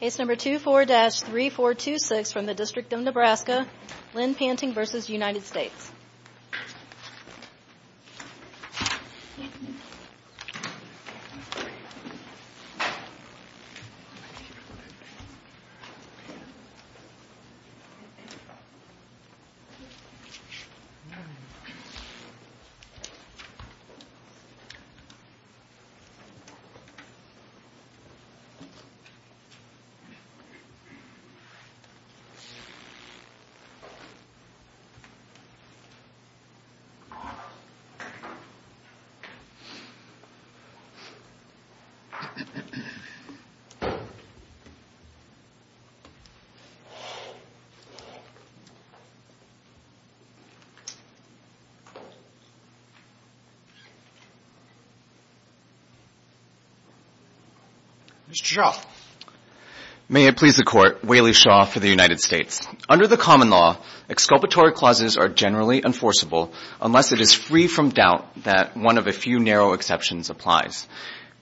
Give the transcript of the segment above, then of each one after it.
Case number 24-3426 from the District of Nebraska, Lynn Panting v. United States Case number 24-3426 from the District of Nebraska, Lynn Panting v. United States Mr. Shaw May it please the Court, Whaley Shaw for the United States. Under the common law, exculpatory clauses are generally enforceable unless it is free from doubt that one of a few narrow exceptions applies.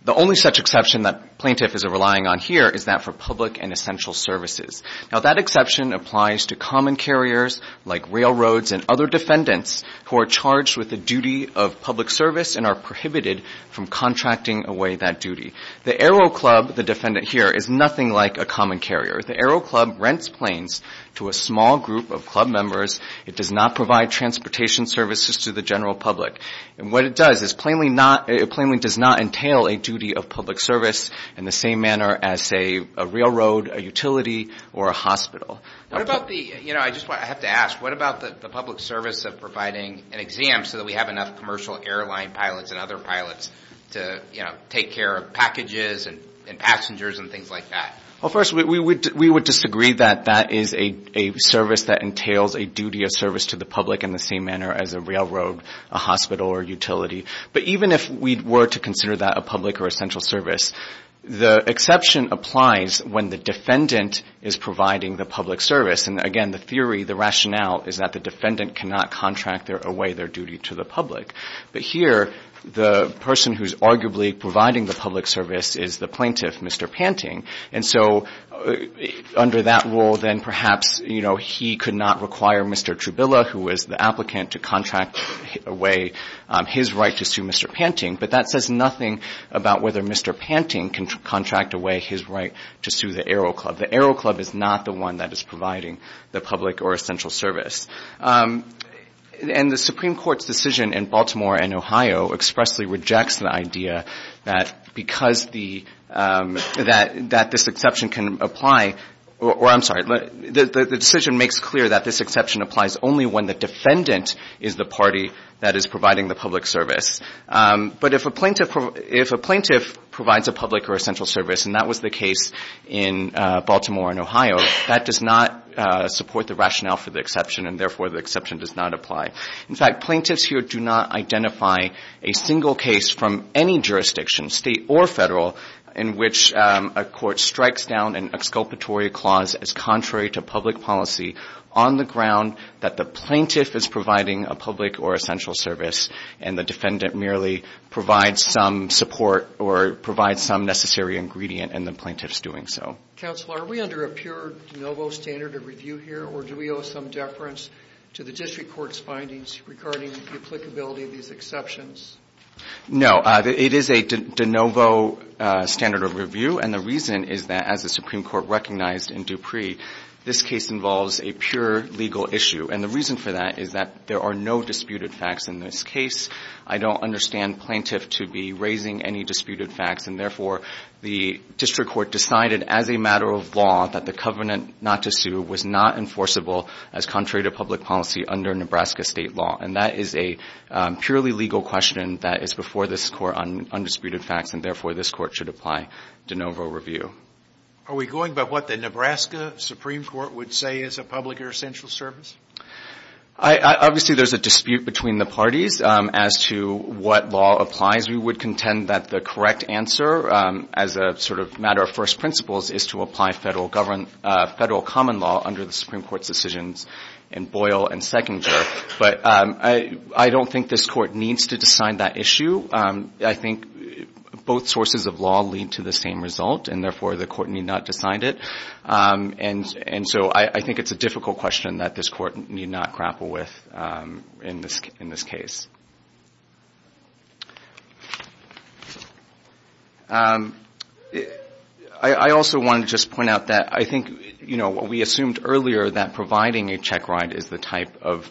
The only such exception that plaintiffs are relying on here is that for public and essential services. Now that exception applies to common carriers like railroads and other defendants who are charged with a duty of public service and are prohibited from contracting away that duty. The Aero Club, the defendant here, is nothing like a common carrier. The Aero Club rents planes to a small group of club members. It does not provide transportation services to the general public. And what it does is it plainly does not entail a duty of public service in the same manner as, say, a railroad, a utility, or a hospital. I have to ask, what about the public service of providing an exam so that we have enough commercial airline pilots and other pilots to take care of packages and passengers and things like that? Well, first, we would disagree that that is a service that entails a duty of service to the public in the same manner as a railroad, a hospital, or a utility. But even if we were to consider that a public or essential service, the exception applies when the defendant is providing the public service. And, again, the theory, the rationale is that the defendant cannot contract away their duty to the public. But here, the person who is arguably providing the public service is the plaintiff, Mr. Panting. And so under that rule, then perhaps he could not require Mr. Trubilla, who is the applicant, to contract away his right to sue Mr. Panting. But that says nothing about whether Mr. Panting can contract away his right to sue the Aero Club. The Aero Club is not the one that is providing the public or essential service. And the Supreme Court's decision in Baltimore and Ohio expressly rejects the idea that because the – that this exception can apply – or, I'm sorry. The decision makes clear that this exception applies only when the defendant is the party that is providing the public service. But if a plaintiff – if a plaintiff provides a public or essential service, and that was the case in Baltimore and Ohio, that does not support the rationale for the exception, and therefore the exception does not apply. In fact, plaintiffs here do not identify a single case from any jurisdiction, state or federal, in which a court strikes down an exculpatory clause as contrary to public policy on the ground that the plaintiff is providing a public or essential service and the defendant merely provides some support or provides some necessary ingredient in the plaintiff's doing so. Counselor, are we under a pure de novo standard of review here, or do we owe some deference to the District Court's findings regarding the applicability of these exceptions? No, it is a de novo standard of review. And the reason is that, as the Supreme Court recognized in Dupree, this case involves a pure legal issue. And the reason for that is that there are no disputed facts in this case. I don't understand plaintiff to be raising any disputed facts, and therefore the District Court decided as a matter of law that the covenant not to sue was not enforceable as contrary to public policy under Nebraska state law. And that is a purely legal question that is before this Court on undisputed facts, and therefore this Court should apply de novo review. Are we going by what the Nebraska Supreme Court would say is a public or essential service? Obviously, there's a dispute between the parties as to what law applies. We would contend that the correct answer, as a sort of matter of first principles, is to apply federal common law under the Supreme Court's decisions in Boyle and Sechinger. But I don't think this Court needs to decide that issue. So I think both sources of law lead to the same result, and therefore the Court need not decide it. And so I think it's a difficult question that this Court need not grapple with in this case. I also wanted to just point out that I think, you know, we assumed earlier that providing a check ride is the type of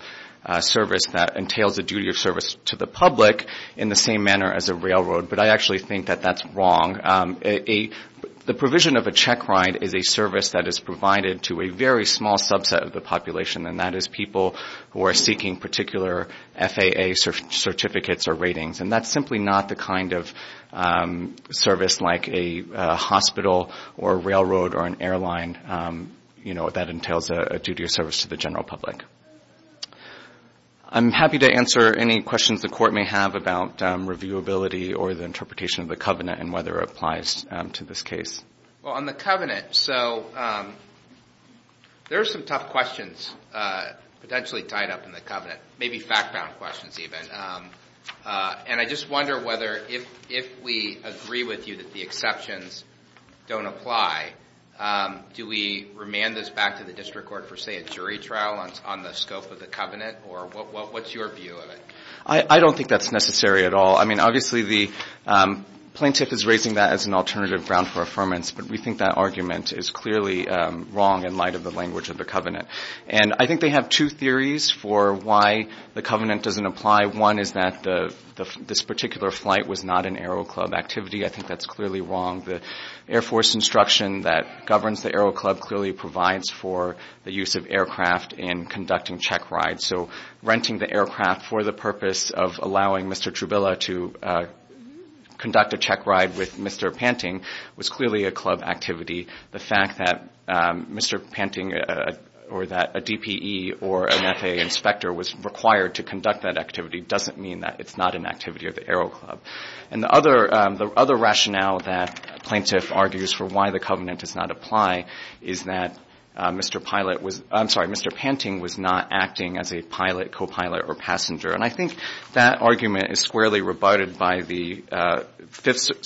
service that entails a duty of service to the public in the same manner as a railroad, but I actually think that that's wrong. The provision of a check ride is a service that is provided to a very small subset of the population, and that is people who are seeking particular FAA certificates or ratings. And that's simply not the kind of service like a hospital or a railroad or an airline, you know, that entails a duty of service to the general public. I'm happy to answer any questions the Court may have about reviewability or the interpretation of the covenant and whether it applies to this case. Well, on the covenant, so there are some tough questions potentially tied up in the covenant, maybe fact-bound questions even. And I just wonder whether if we agree with you that the exceptions don't apply, do we remand this back to the district court for, say, a jury trial on the scope of the covenant? Or what's your view of it? I don't think that's necessary at all. I mean, obviously the plaintiff is raising that as an alternative ground for affirmance, but we think that argument is clearly wrong in light of the language of the covenant. And I think they have two theories for why the covenant doesn't apply. One is that this particular flight was not an Aero Club activity. I think that's clearly wrong. The Air Force instruction that governs the Aero Club clearly provides for the use of aircraft in conducting check rides. So renting the aircraft for the purpose of allowing Mr. Trubilla to conduct a check ride with Mr. Panting was clearly a club activity. The fact that Mr. Panting or that a DPE or an FAA inspector was required to conduct that activity doesn't mean that it's not an activity of the Aero Club. And the other rationale that the plaintiff argues for why the covenant does not apply is that Mr. Panting was not acting as a pilot, copilot, or passenger. And I think that argument is squarely rebutted by the Fifth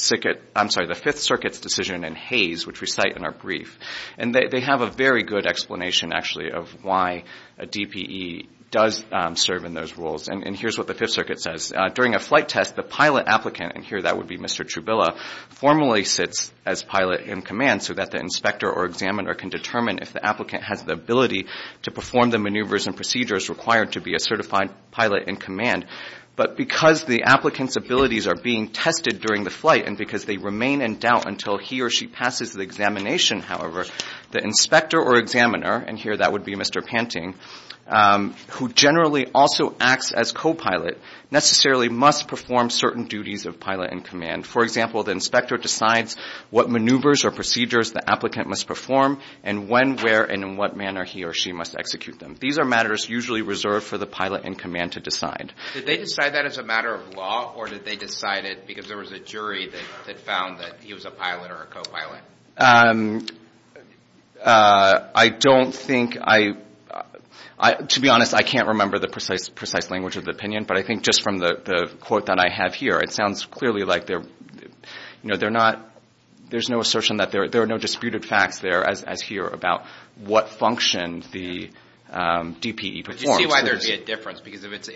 Circuit's decision in Hays, which we cite in our brief. And they have a very good explanation, actually, of why a DPE does serve in those roles. And here's what the Fifth Circuit says. During a flight test, the pilot applicant, and here that would be Mr. Trubilla, formally sits as pilot in command so that the inspector or examiner can determine if the applicant has the ability to perform the maneuvers and procedures required to be a certified pilot in command. But because the applicant's abilities are being tested during the flight and because they remain in doubt until he or she passes the examination, however, the inspector or examiner, and here that would be Mr. Panting, who generally also acts as copilot, necessarily must perform certain duties of pilot in command. For example, the inspector decides what maneuvers or procedures the applicant must perform and when, where, and in what manner he or she must execute them. These are matters usually reserved for the pilot in command to decide. Did they decide that as a matter of law, or did they decide it because there was a jury that found that he was a pilot or a copilot? I don't think I, to be honest, I can't remember the precise language of the opinion, but I think just from the quote that I have here, it sounds clearly like they're, you know, they're not, there's no assertion that, there are no disputed facts there as here about what function the DPE performs. Did you see why there'd be a difference? Because if it's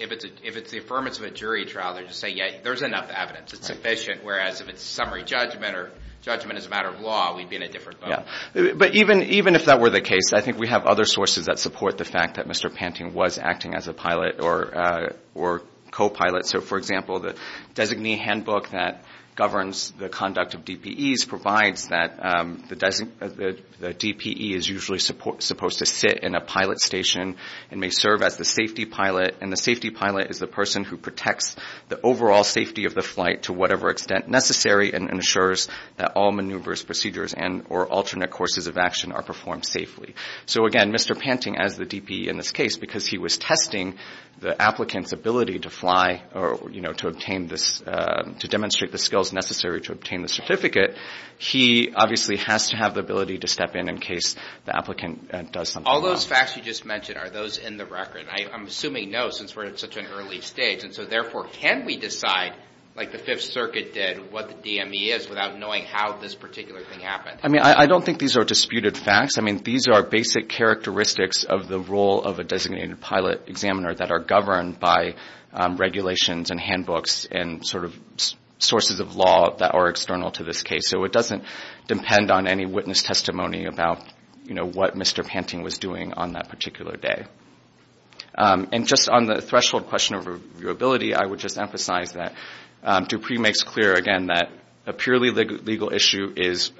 the affirmance of a jury trial, they just say, yeah, there's enough evidence. It's sufficient, whereas if it's summary judgment or judgment as a matter of law, we'd be in a different boat. But even if that were the case, I think we have other sources that support the fact that Mr. Panting was acting as a pilot or copilot. So, for example, the designee handbook that governs the conduct of DPEs provides that the DPE is usually supposed to sit in a pilot station and may serve as the safety pilot, and the safety pilot is the person who protects the overall safety of the flight to whatever extent necessary and ensures that all maneuvers, procedures, and or alternate courses of action are performed safely. So, again, Mr. Panting as the DPE in this case, because he was testing the applicant's ability to fly or, you know, to obtain this, to demonstrate the skills necessary to obtain the certificate, he obviously has to have the ability to step in in case the applicant does something wrong. All those facts you just mentioned, are those in the record? I'm assuming no, since we're at such an early stage. And so, therefore, can we decide, like the Fifth Circuit did, what the DME is without knowing how this particular thing happened? I mean, I don't think these are disputed facts. I mean, these are basic characteristics of the role of a designated pilot examiner that are governed by regulations and handbooks and sort of sources of law that are external to this case. So it doesn't depend on any witness testimony about, you know, what Mr. Panting was doing on that particular day. And just on the threshold question of reviewability, I would just emphasize that Dupree makes clear, again, that a purely legal issue is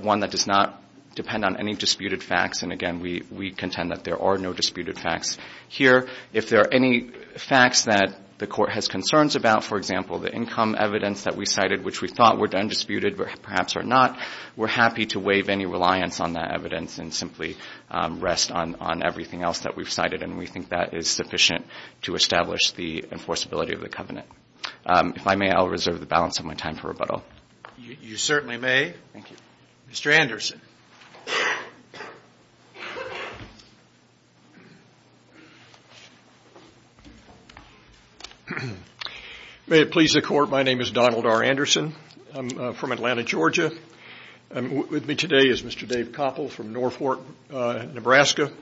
one that does not depend on any disputed facts. And, again, we contend that there are no disputed facts here. If there are any facts that the court has concerns about, for example, the income evidence that we cited, which we thought were undisputed, perhaps are not, we're happy to waive any reliance on that evidence and simply rest on everything else that we've cited. And we think that is sufficient to establish the enforceability of the covenant. If I may, I'll reserve the balance of my time for rebuttal. You certainly may. Thank you. Mr. Anderson. May it please the Court. My name is Donald R. Anderson. I'm from Atlanta, Georgia. With me today is Mr. Dave Koppel from Norfolk, Nebraska.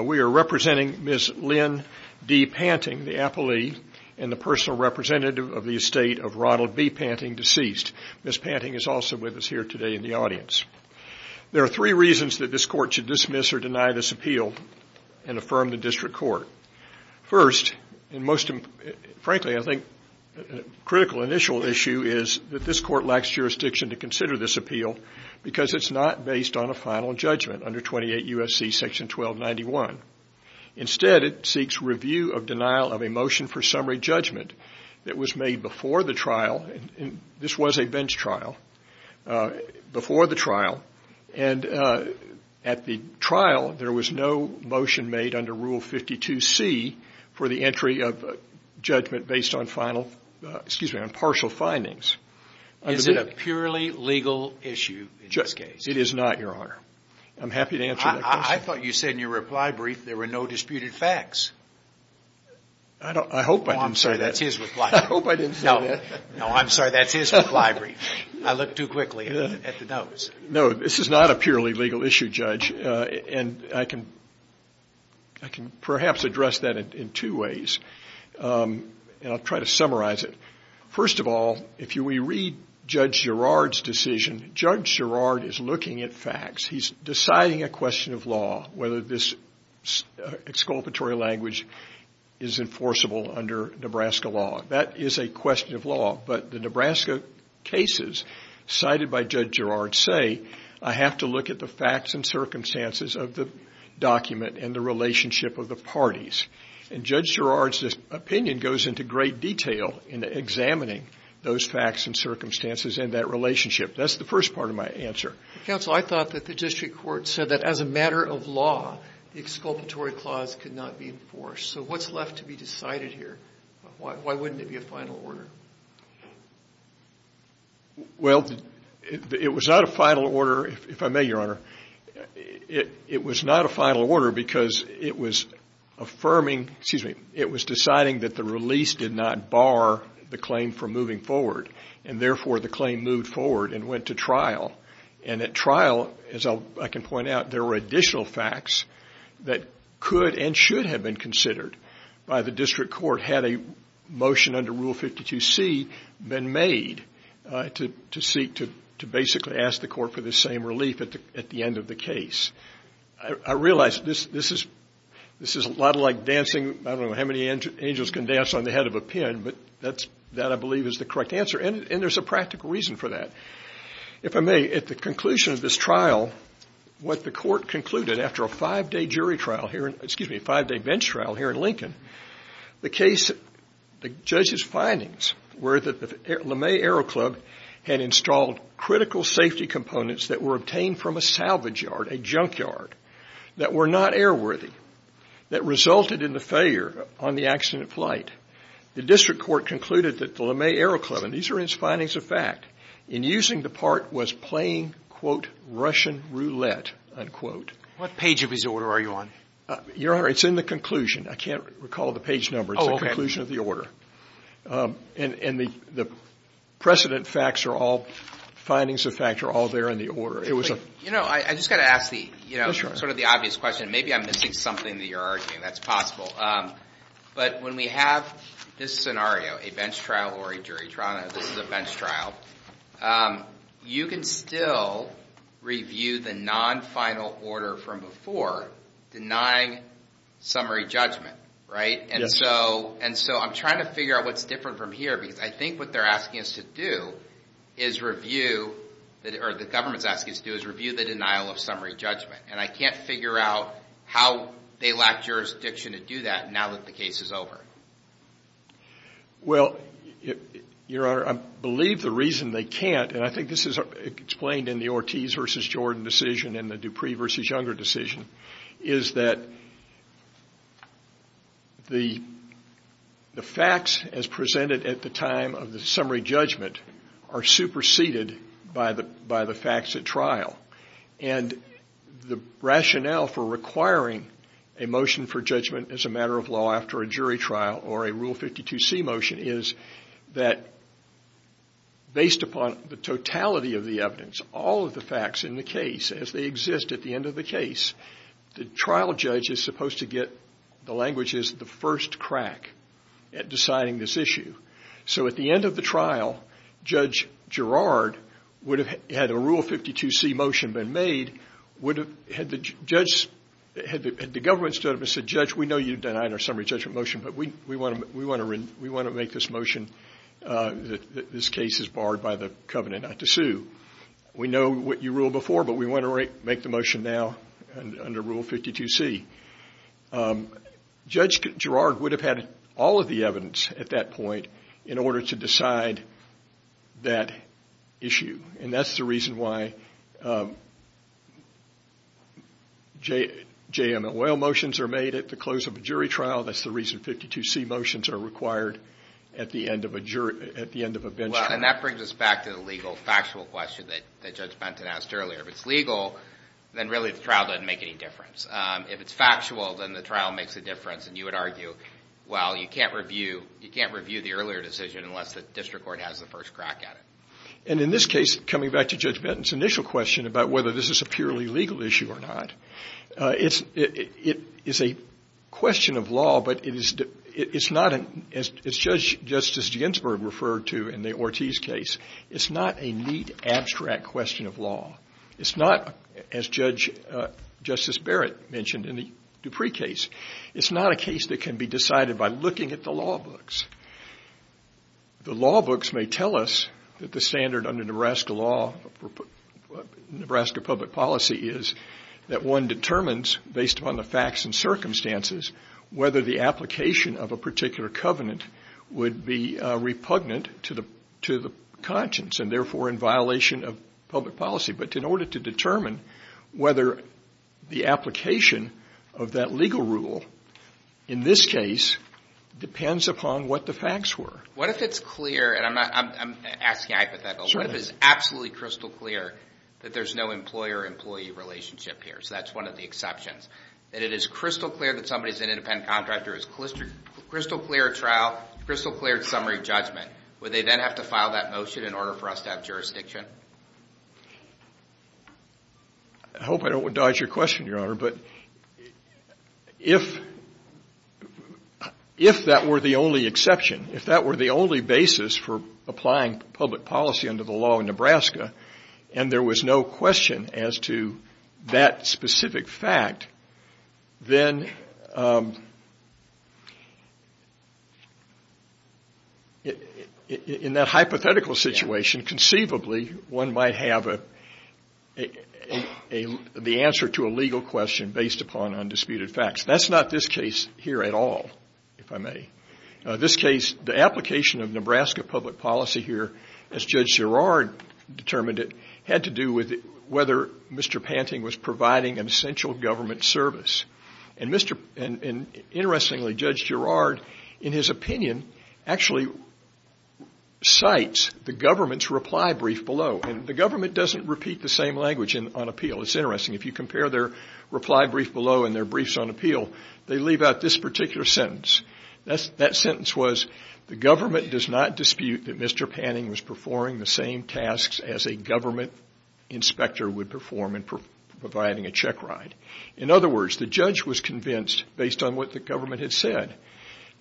We are representing Ms. Lynn D. Panting, the appellee, and the personal representative of the estate of Ronald B. Panting, deceased. Ms. Panting is also with us here today in the audience. There are three reasons that this court should dismiss or deny this appeal and affirm the district court. First, and most frankly, I think, a critical initial issue is that this court lacks jurisdiction to consider this appeal because it's not based on a final judgment under 28 U.S.C. section 1291. Instead, it seeks review of denial of a motion for summary judgment that was made before the trial. This was a bench trial before the trial, and at the trial, there was no motion made under Rule 52C for the entry of judgment based on partial findings. Is it a purely legal issue in this case? It is not, Your Honor. I'm happy to answer that question. I thought you said in your reply brief there were no disputed facts. I hope I didn't say that. That's his reply. I hope I didn't say that. No, I'm sorry, that's his reply brief. I looked too quickly at the notes. No, this is not a purely legal issue, Judge, and I can perhaps address that in two ways, and I'll try to summarize it. First of all, if we read Judge Girard's decision, Judge Girard is looking at facts. He's deciding a question of law, whether this exculpatory language is enforceable under Nebraska law. That is a question of law, but the Nebraska cases cited by Judge Girard say I have to look at the facts and circumstances of the document and the relationship of the parties. And Judge Girard's opinion goes into great detail in examining those facts and circumstances and that relationship. That's the first part of my answer. Counsel, I thought that the district court said that as a matter of law, the exculpatory clause could not be enforced. So what's left to be decided here? Why wouldn't it be a final order? Well, it was not a final order, if I may, Your Honor. It was not a final order because it was affirming, excuse me, it was deciding that the release did not bar the claim from moving forward, and therefore the claim moved forward and went to trial. And at trial, as I can point out, there were additional facts that could and should have been considered by the district court had a motion under Rule 52C been made to seek to basically ask the court for the same relief at the end of the case. I realize this is a lot like dancing, I don't know how many angels can dance on the head of a pin, but that, I believe, is the correct answer, and there's a practical reason for that. If I may, at the conclusion of this trial, what the court concluded after a five-day bench trial here in Lincoln, the judge's findings were that the LeMay Aero Club had installed critical safety components that were obtained from a salvage yard, a junkyard, that were not airworthy, that resulted in the failure on the accident flight. The district court concluded that the LeMay Aero Club, and these are its findings of fact, in using the part was playing, quote, Russian roulette, unquote. What page of his order are you on? Your Honor, it's in the conclusion. I can't recall the page number. It's the conclusion of the order. And the precedent facts are all, findings of fact are all there in the order. You know, I just got to ask the, you know, sort of the obvious question. Maybe I'm missing something that you're arguing. That's possible. But when we have this scenario, a bench trial or a jury trial, this is a bench trial, you can still review the non-final order from before denying summary judgment, right? And so I'm trying to figure out what's different from here because I think what they're asking us to do is review, or the government's asking us to do is review the denial of summary judgment. And I can't figure out how they lack jurisdiction to do that now that the case is over. Well, Your Honor, I believe the reason they can't, and I think this is explained in the Ortiz v. Jordan decision and the Dupree v. Younger decision, is that the facts as presented at the time of the summary judgment are superseded by the facts at trial. And the rationale for requiring a motion for judgment as a matter of law after a jury trial or a Rule 52c motion is that based upon the totality of the evidence, all of the facts in the case as they exist at the end of the case, the trial judge is supposed to get, the language is, the first crack at deciding this issue. So at the end of the trial, Judge Girard, had a Rule 52c motion been made, had the government stood up and said, Judge, we know you've denied our summary judgment motion, but we want to make this motion that this case is barred by the covenant not to sue. We know what you ruled before, but we want to make the motion now under Rule 52c. Judge Girard would have had all of the evidence at that point in order to decide that issue. And that's the reason why JMOL motions are made at the close of a jury trial. That's the reason 52c motions are required at the end of a jury, at the end of a bench trial. Well, and that brings us back to the legal factual question that Judge Benton asked earlier. If it's legal, then really the trial doesn't make any difference. If it's factual, then the trial makes a difference. And you would argue, well, you can't review the earlier decision unless the district court has the first crack at it. And in this case, coming back to Judge Benton's initial question about whether this is a purely legal issue or not, it is a question of law, but it is not, as Judge Justice Ginsberg referred to in the Ortiz case, it's not a neat, abstract question of law. It's not, as Judge Justice Barrett mentioned in the Dupree case, it's not a case that can be decided by looking at the law books. The law books may tell us that the standard under Nebraska law, Nebraska public policy, is that one determines, based upon the facts and circumstances, whether the application of a particular covenant would be repugnant to the conscience and therefore in violation of public policy. But in order to determine whether the application of that legal rule, in this case, depends upon what the facts were. What if it's clear, and I'm asking a hypothetical, what if it's absolutely crystal clear that there's no employer-employee relationship here? So that's one of the exceptions. That it is crystal clear that somebody is an independent contractor, it's crystal clear trial, crystal clear summary judgment. Would they then have to file that motion in order for us to have jurisdiction? I hope I don't dodge your question, Your Honor, but if that were the only exception, if that were the only basis for applying public policy under the law in Nebraska and there was no question as to that specific fact, then in that hypothetical situation, conceivably, one might have the answer to a legal question based upon undisputed facts. That's not this case here at all, if I may. This case, the application of Nebraska public policy here, as Judge Girard determined it, had to do with whether Mr. Panting was providing an essential government service. And interestingly, Judge Girard, in his opinion, actually cites the government's reply brief below. And the government doesn't repeat the same language on appeal. It's interesting. If you compare their reply brief below and their briefs on appeal, they leave out this particular sentence. That sentence was, the government does not dispute that Mr. Panting was performing the same tasks as a government inspector would perform in providing a checkride. In other words, the judge was convinced, based on what the government had said,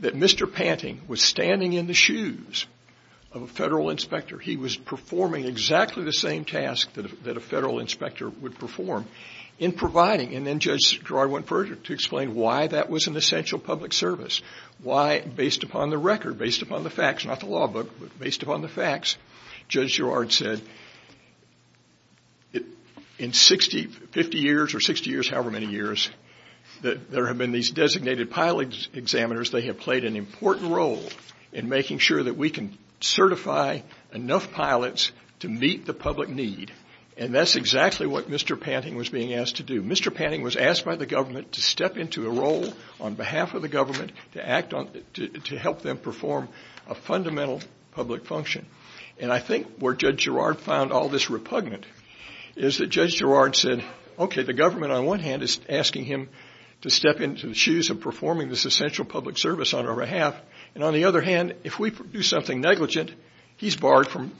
that Mr. Panting was standing in the shoes of a federal inspector. He was performing exactly the same task that a federal inspector would perform in providing. And then Judge Girard went further to explain why that was an essential public service, why based upon the record, based upon the facts, not the law book, but based upon the facts, Judge Girard said in 50 years or 60 years, however many years, that there have been these designated pilot examiners. They have played an important role in making sure that we can certify enough pilots to meet the public need. And that's exactly what Mr. Panting was being asked to do. To help them perform a fundamental public function. And I think where Judge Girard found all this repugnant is that Judge Girard said, okay, the government on one hand is asking him to step into the shoes of performing this essential public service on our behalf, and on the other hand, if we do something negligent, he's barred from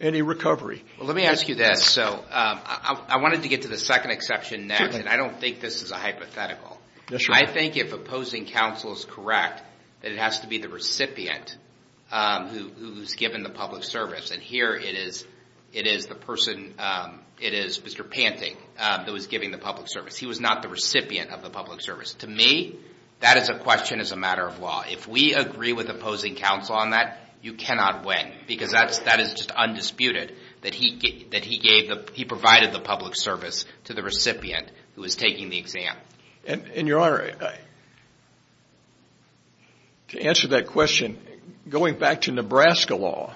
any recovery. Let me ask you this. I wanted to get to the second exception next, and I don't think this is a hypothetical. I think if opposing counsel is correct, that it has to be the recipient who's given the public service. And here it is Mr. Panting that was giving the public service. He was not the recipient of the public service. To me, that is a question as a matter of law. If we agree with opposing counsel on that, you cannot win. Because that is just undisputed, that he provided the public service to the recipient who was taking the exam. And, Your Honor, to answer that question, going back to Nebraska law,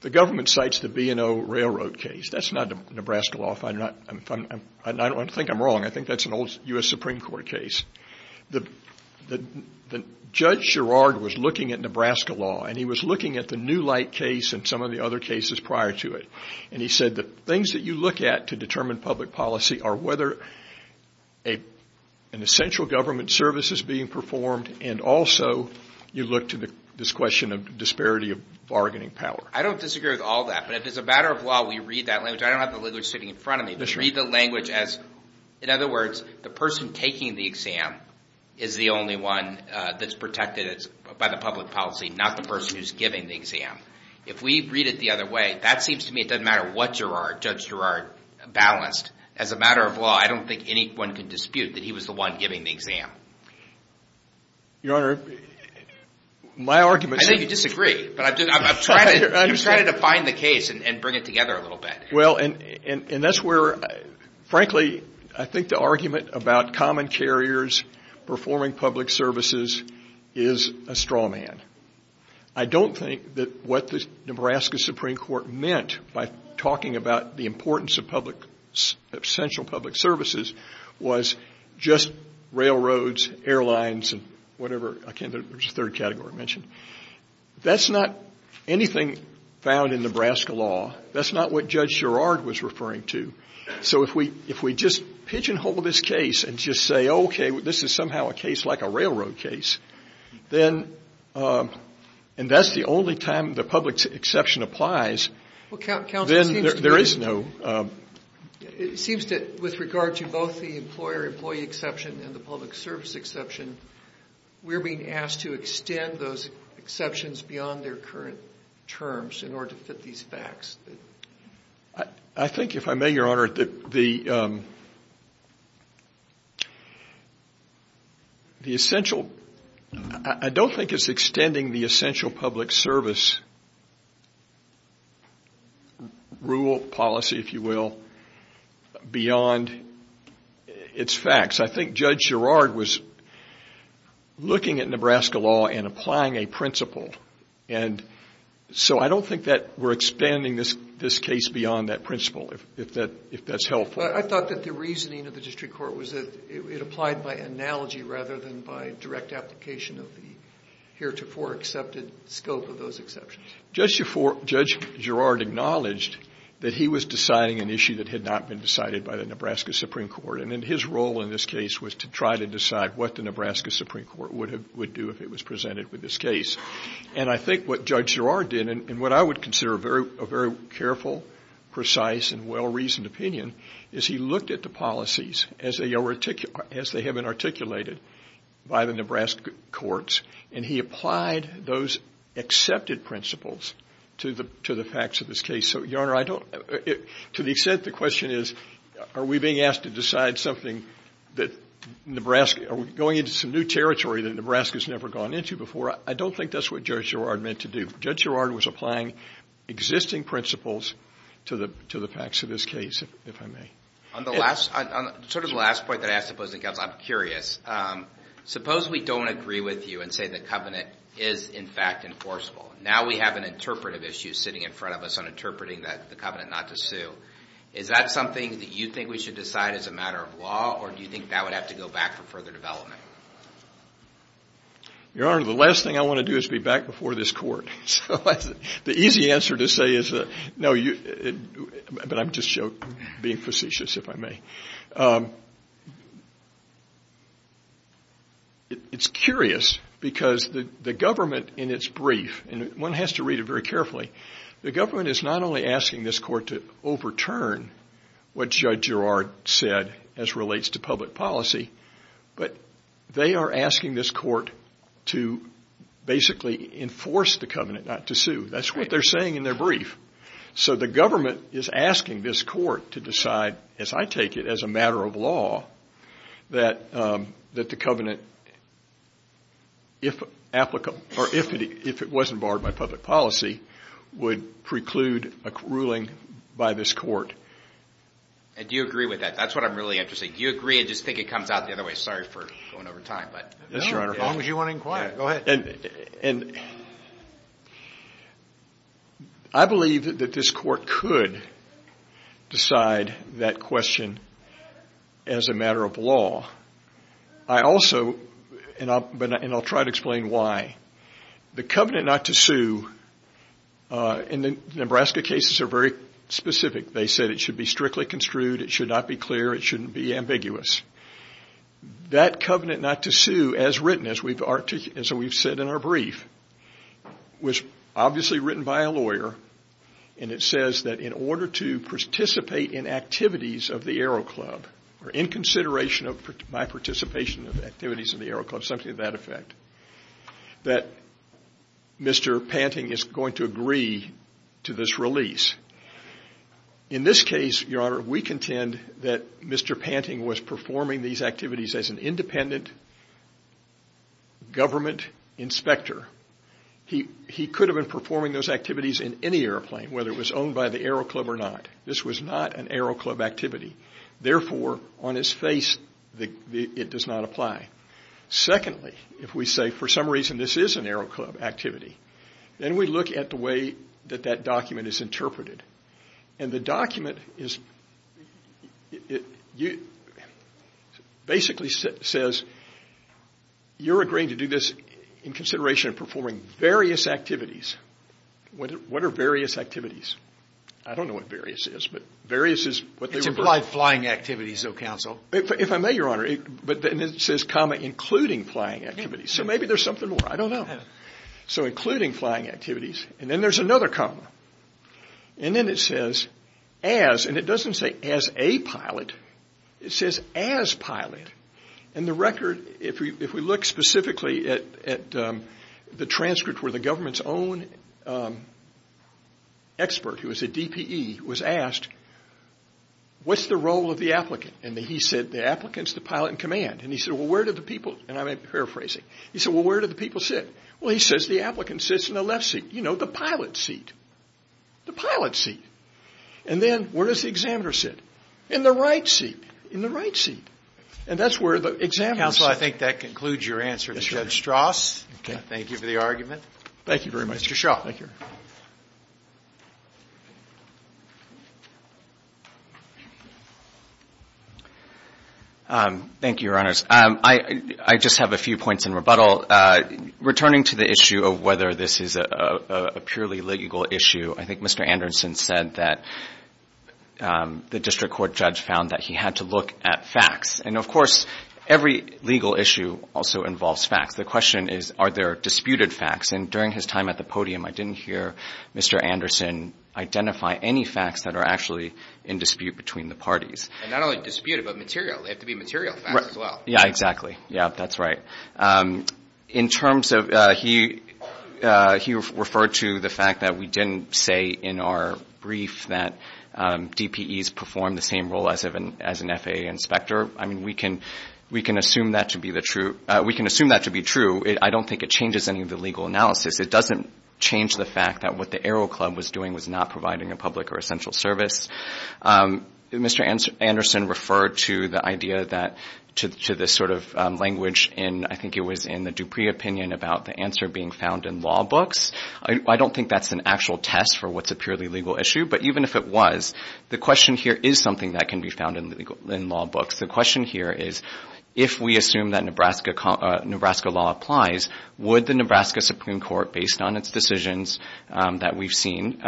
the government cites the B&O Railroad case. That's not Nebraska law. I think I'm wrong. I think that's an old U.S. Supreme Court case. Judge Girard was looking at Nebraska law, and he was looking at the New Light case and some of the other cases prior to it. And he said the things that you look at to determine public policy are whether an essential government service is being performed and also you look to this question of disparity of bargaining power. I don't disagree with all that. But if it's a matter of law, we read that language. I don't have the language sitting in front of me. Read the language as, in other words, the person taking the exam is the only one that's protected by the public policy, not the person who's giving the exam. If we read it the other way, that seems to me it doesn't matter what Girard, Judge Girard, balanced. As a matter of law, I don't think anyone can dispute that he was the one giving the exam. Your Honor, my argument is that you disagree. But I'm trying to define the case and bring it together a little bit. Well, and that's where, frankly, I think the argument about common carriers performing public services is a straw man. I don't think that what the Nebraska Supreme Court meant by talking about the importance of central public services was just railroads, airlines, and whatever. I can't think of the third category I mentioned. That's not anything found in Nebraska law. That's not what Judge Girard was referring to. So if we just pigeonhole this case and just say, okay, this is somehow a case like a railroad case, and that's the only time the public exception applies, then there is no— It seems that with regard to both the employer-employee exception and the public service exception, we're being asked to extend those exceptions beyond their current terms in order to fit these facts. I think, if I may, Your Honor, the essential— I don't think it's extending the essential public service rule, policy, if you will, beyond its facts. I think Judge Girard was looking at Nebraska law and applying a principle. So I don't think that we're expanding this case beyond that principle, if that's helpful. I thought that the reasoning of the district court was that it applied by analogy rather than by direct application of the heretofore accepted scope of those exceptions. Judge Girard acknowledged that he was deciding an issue that had not been decided by the Nebraska Supreme Court, and his role in this case was to try to decide what the Nebraska Supreme Court would do if it was presented with this case. And I think what Judge Girard did, and what I would consider a very careful, precise, and well-reasoned opinion, is he looked at the policies as they have been articulated by the Nebraska courts, and he applied those accepted principles to the facts of this case. So, Your Honor, I don't—to the extent the question is, are we being asked to decide something that Nebraska— are we going into some new territory that Nebraska has never gone into before? I don't think that's what Judge Girard meant to do. Judge Girard was applying existing principles to the facts of this case, if I may. On the last—sort of the last point that I ask the opposing counsel, I'm curious. Suppose we don't agree with you and say the covenant is, in fact, enforceable. Now we have an interpretive issue sitting in front of us on interpreting the covenant not to sue. Is that something that you think we should decide as a matter of law, or do you think that would have to go back for further development? Your Honor, the last thing I want to do is be back before this court. So the easy answer to say is, no, you—but I'm just being facetious, if I may. It's curious because the government in its brief—and one has to read it very carefully— the government is not only asking this court to overturn what Judge Girard said as relates to public policy, but they are asking this court to basically enforce the covenant not to sue. That's what they're saying in their brief. So the government is asking this court to decide, as I take it, as a matter of law, that the covenant, if applicable—or if it wasn't barred by public policy, would preclude a ruling by this court. And do you agree with that? That's what I'm really interested in. Do you agree and just think it comes out the other way? Sorry for going over time, but— Yes, Your Honor. As long as you want to inquire. Go ahead. And I believe that this court could decide that question as a matter of law. I also—and I'll try to explain why. The covenant not to sue in the Nebraska cases are very specific. They said it should be strictly construed. It should not be clear. It shouldn't be ambiguous. That covenant not to sue, as written, as we've said in our brief, was obviously written by a lawyer, and it says that in order to participate in activities of the Aero Club, or in consideration of my participation in activities of the Aero Club, something to that effect, that Mr. Panting is going to agree to this release. In this case, Your Honor, we contend that Mr. Panting was performing these activities as an independent government inspector. He could have been performing those activities in any airplane, whether it was owned by the Aero Club or not. This was not an Aero Club activity. Therefore, on his face, it does not apply. Secondly, if we say, for some reason, this is an Aero Club activity, then we look at the way that that document is interpreted. The document basically says, you're agreeing to do this in consideration of performing various activities. What are various activities? I don't know what various is. It's implied flying activities, though, counsel. If I may, Your Honor. It says, including flying activities. Maybe there's something more. I don't know. Including flying activities. Then there's another comma. Then it says, as. It doesn't say, as a pilot. It says, as pilot. The record, if we look specifically at the transcript where the government's own expert, who was a DPE, was asked, what's the role of the applicant? He said, the applicant's the pilot in command. He said, where do the people, and I'm paraphrasing. He said, well, where do the people sit? Well, he says, the applicant sits in the left seat. You know, the pilot seat. The pilot seat. And then, where does the examiner sit? In the right seat. In the right seat. And that's where the examiner sits. Counsel, I think that concludes your answer to Judge Strauss. Thank you for the argument. Thank you very much. Mr. Shaw. Thank you. Thank you, Your Honors. I just have a few points in rebuttal. Returning to the issue of whether this is a purely legal issue, I think Mr. Anderson said that the district court judge found that he had to look at facts. And, of course, every legal issue also involves facts. The question is, are there disputed facts? And during his time at the podium, I didn't hear Mr. Anderson identify any facts that are actually in dispute between the parties. And not only disputed, but material. They have to be material facts as well. Yeah, exactly. Yeah, that's right. In terms of he referred to the fact that we didn't say in our brief that DPEs perform the same role as an FAA inspector. I mean, we can assume that to be true. I don't think it changes any of the legal analysis. It doesn't change the fact that what the Aero Club was doing was not providing a public or essential service. Mr. Anderson referred to the idea that, to this sort of language, and I think it was in the Dupree opinion about the answer being found in law books. I don't think that's an actual test for what's a purely legal issue. But even if it was, the question here is something that can be found in law books. The question here is, if we assume that Nebraska law applies, would the Nebraska Supreme Court, based on its decisions that we've seen,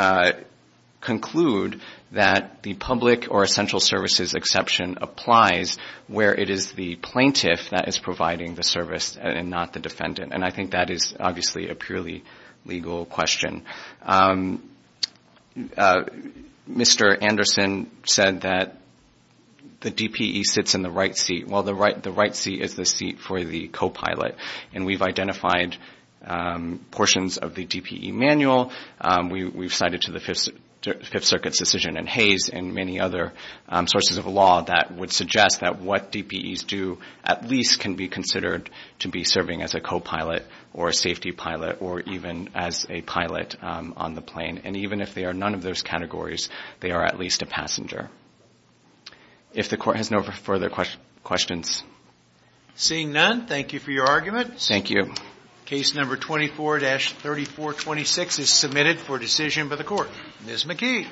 conclude that the public or essential services exception applies where it is the plaintiff that is providing the service and not the defendant? And I think that is obviously a purely legal question. Mr. Anderson said that the DPE sits in the right seat. Well, the right seat is the seat for the copilot. And we've identified portions of the DPE manual. We've cited to the Fifth Circuit's decision in Hayes and many other sources of law that would suggest that what DPEs do at least can be considered to be serving as a copilot or a safety pilot or even as a pilot on the plane. And even if they are none of those categories, they are at least a passenger. If the Court has no further questions. Seeing none, thank you for your argument. Thank you. Case number 24-3426 is submitted for decision by the Court. Ms. McKee.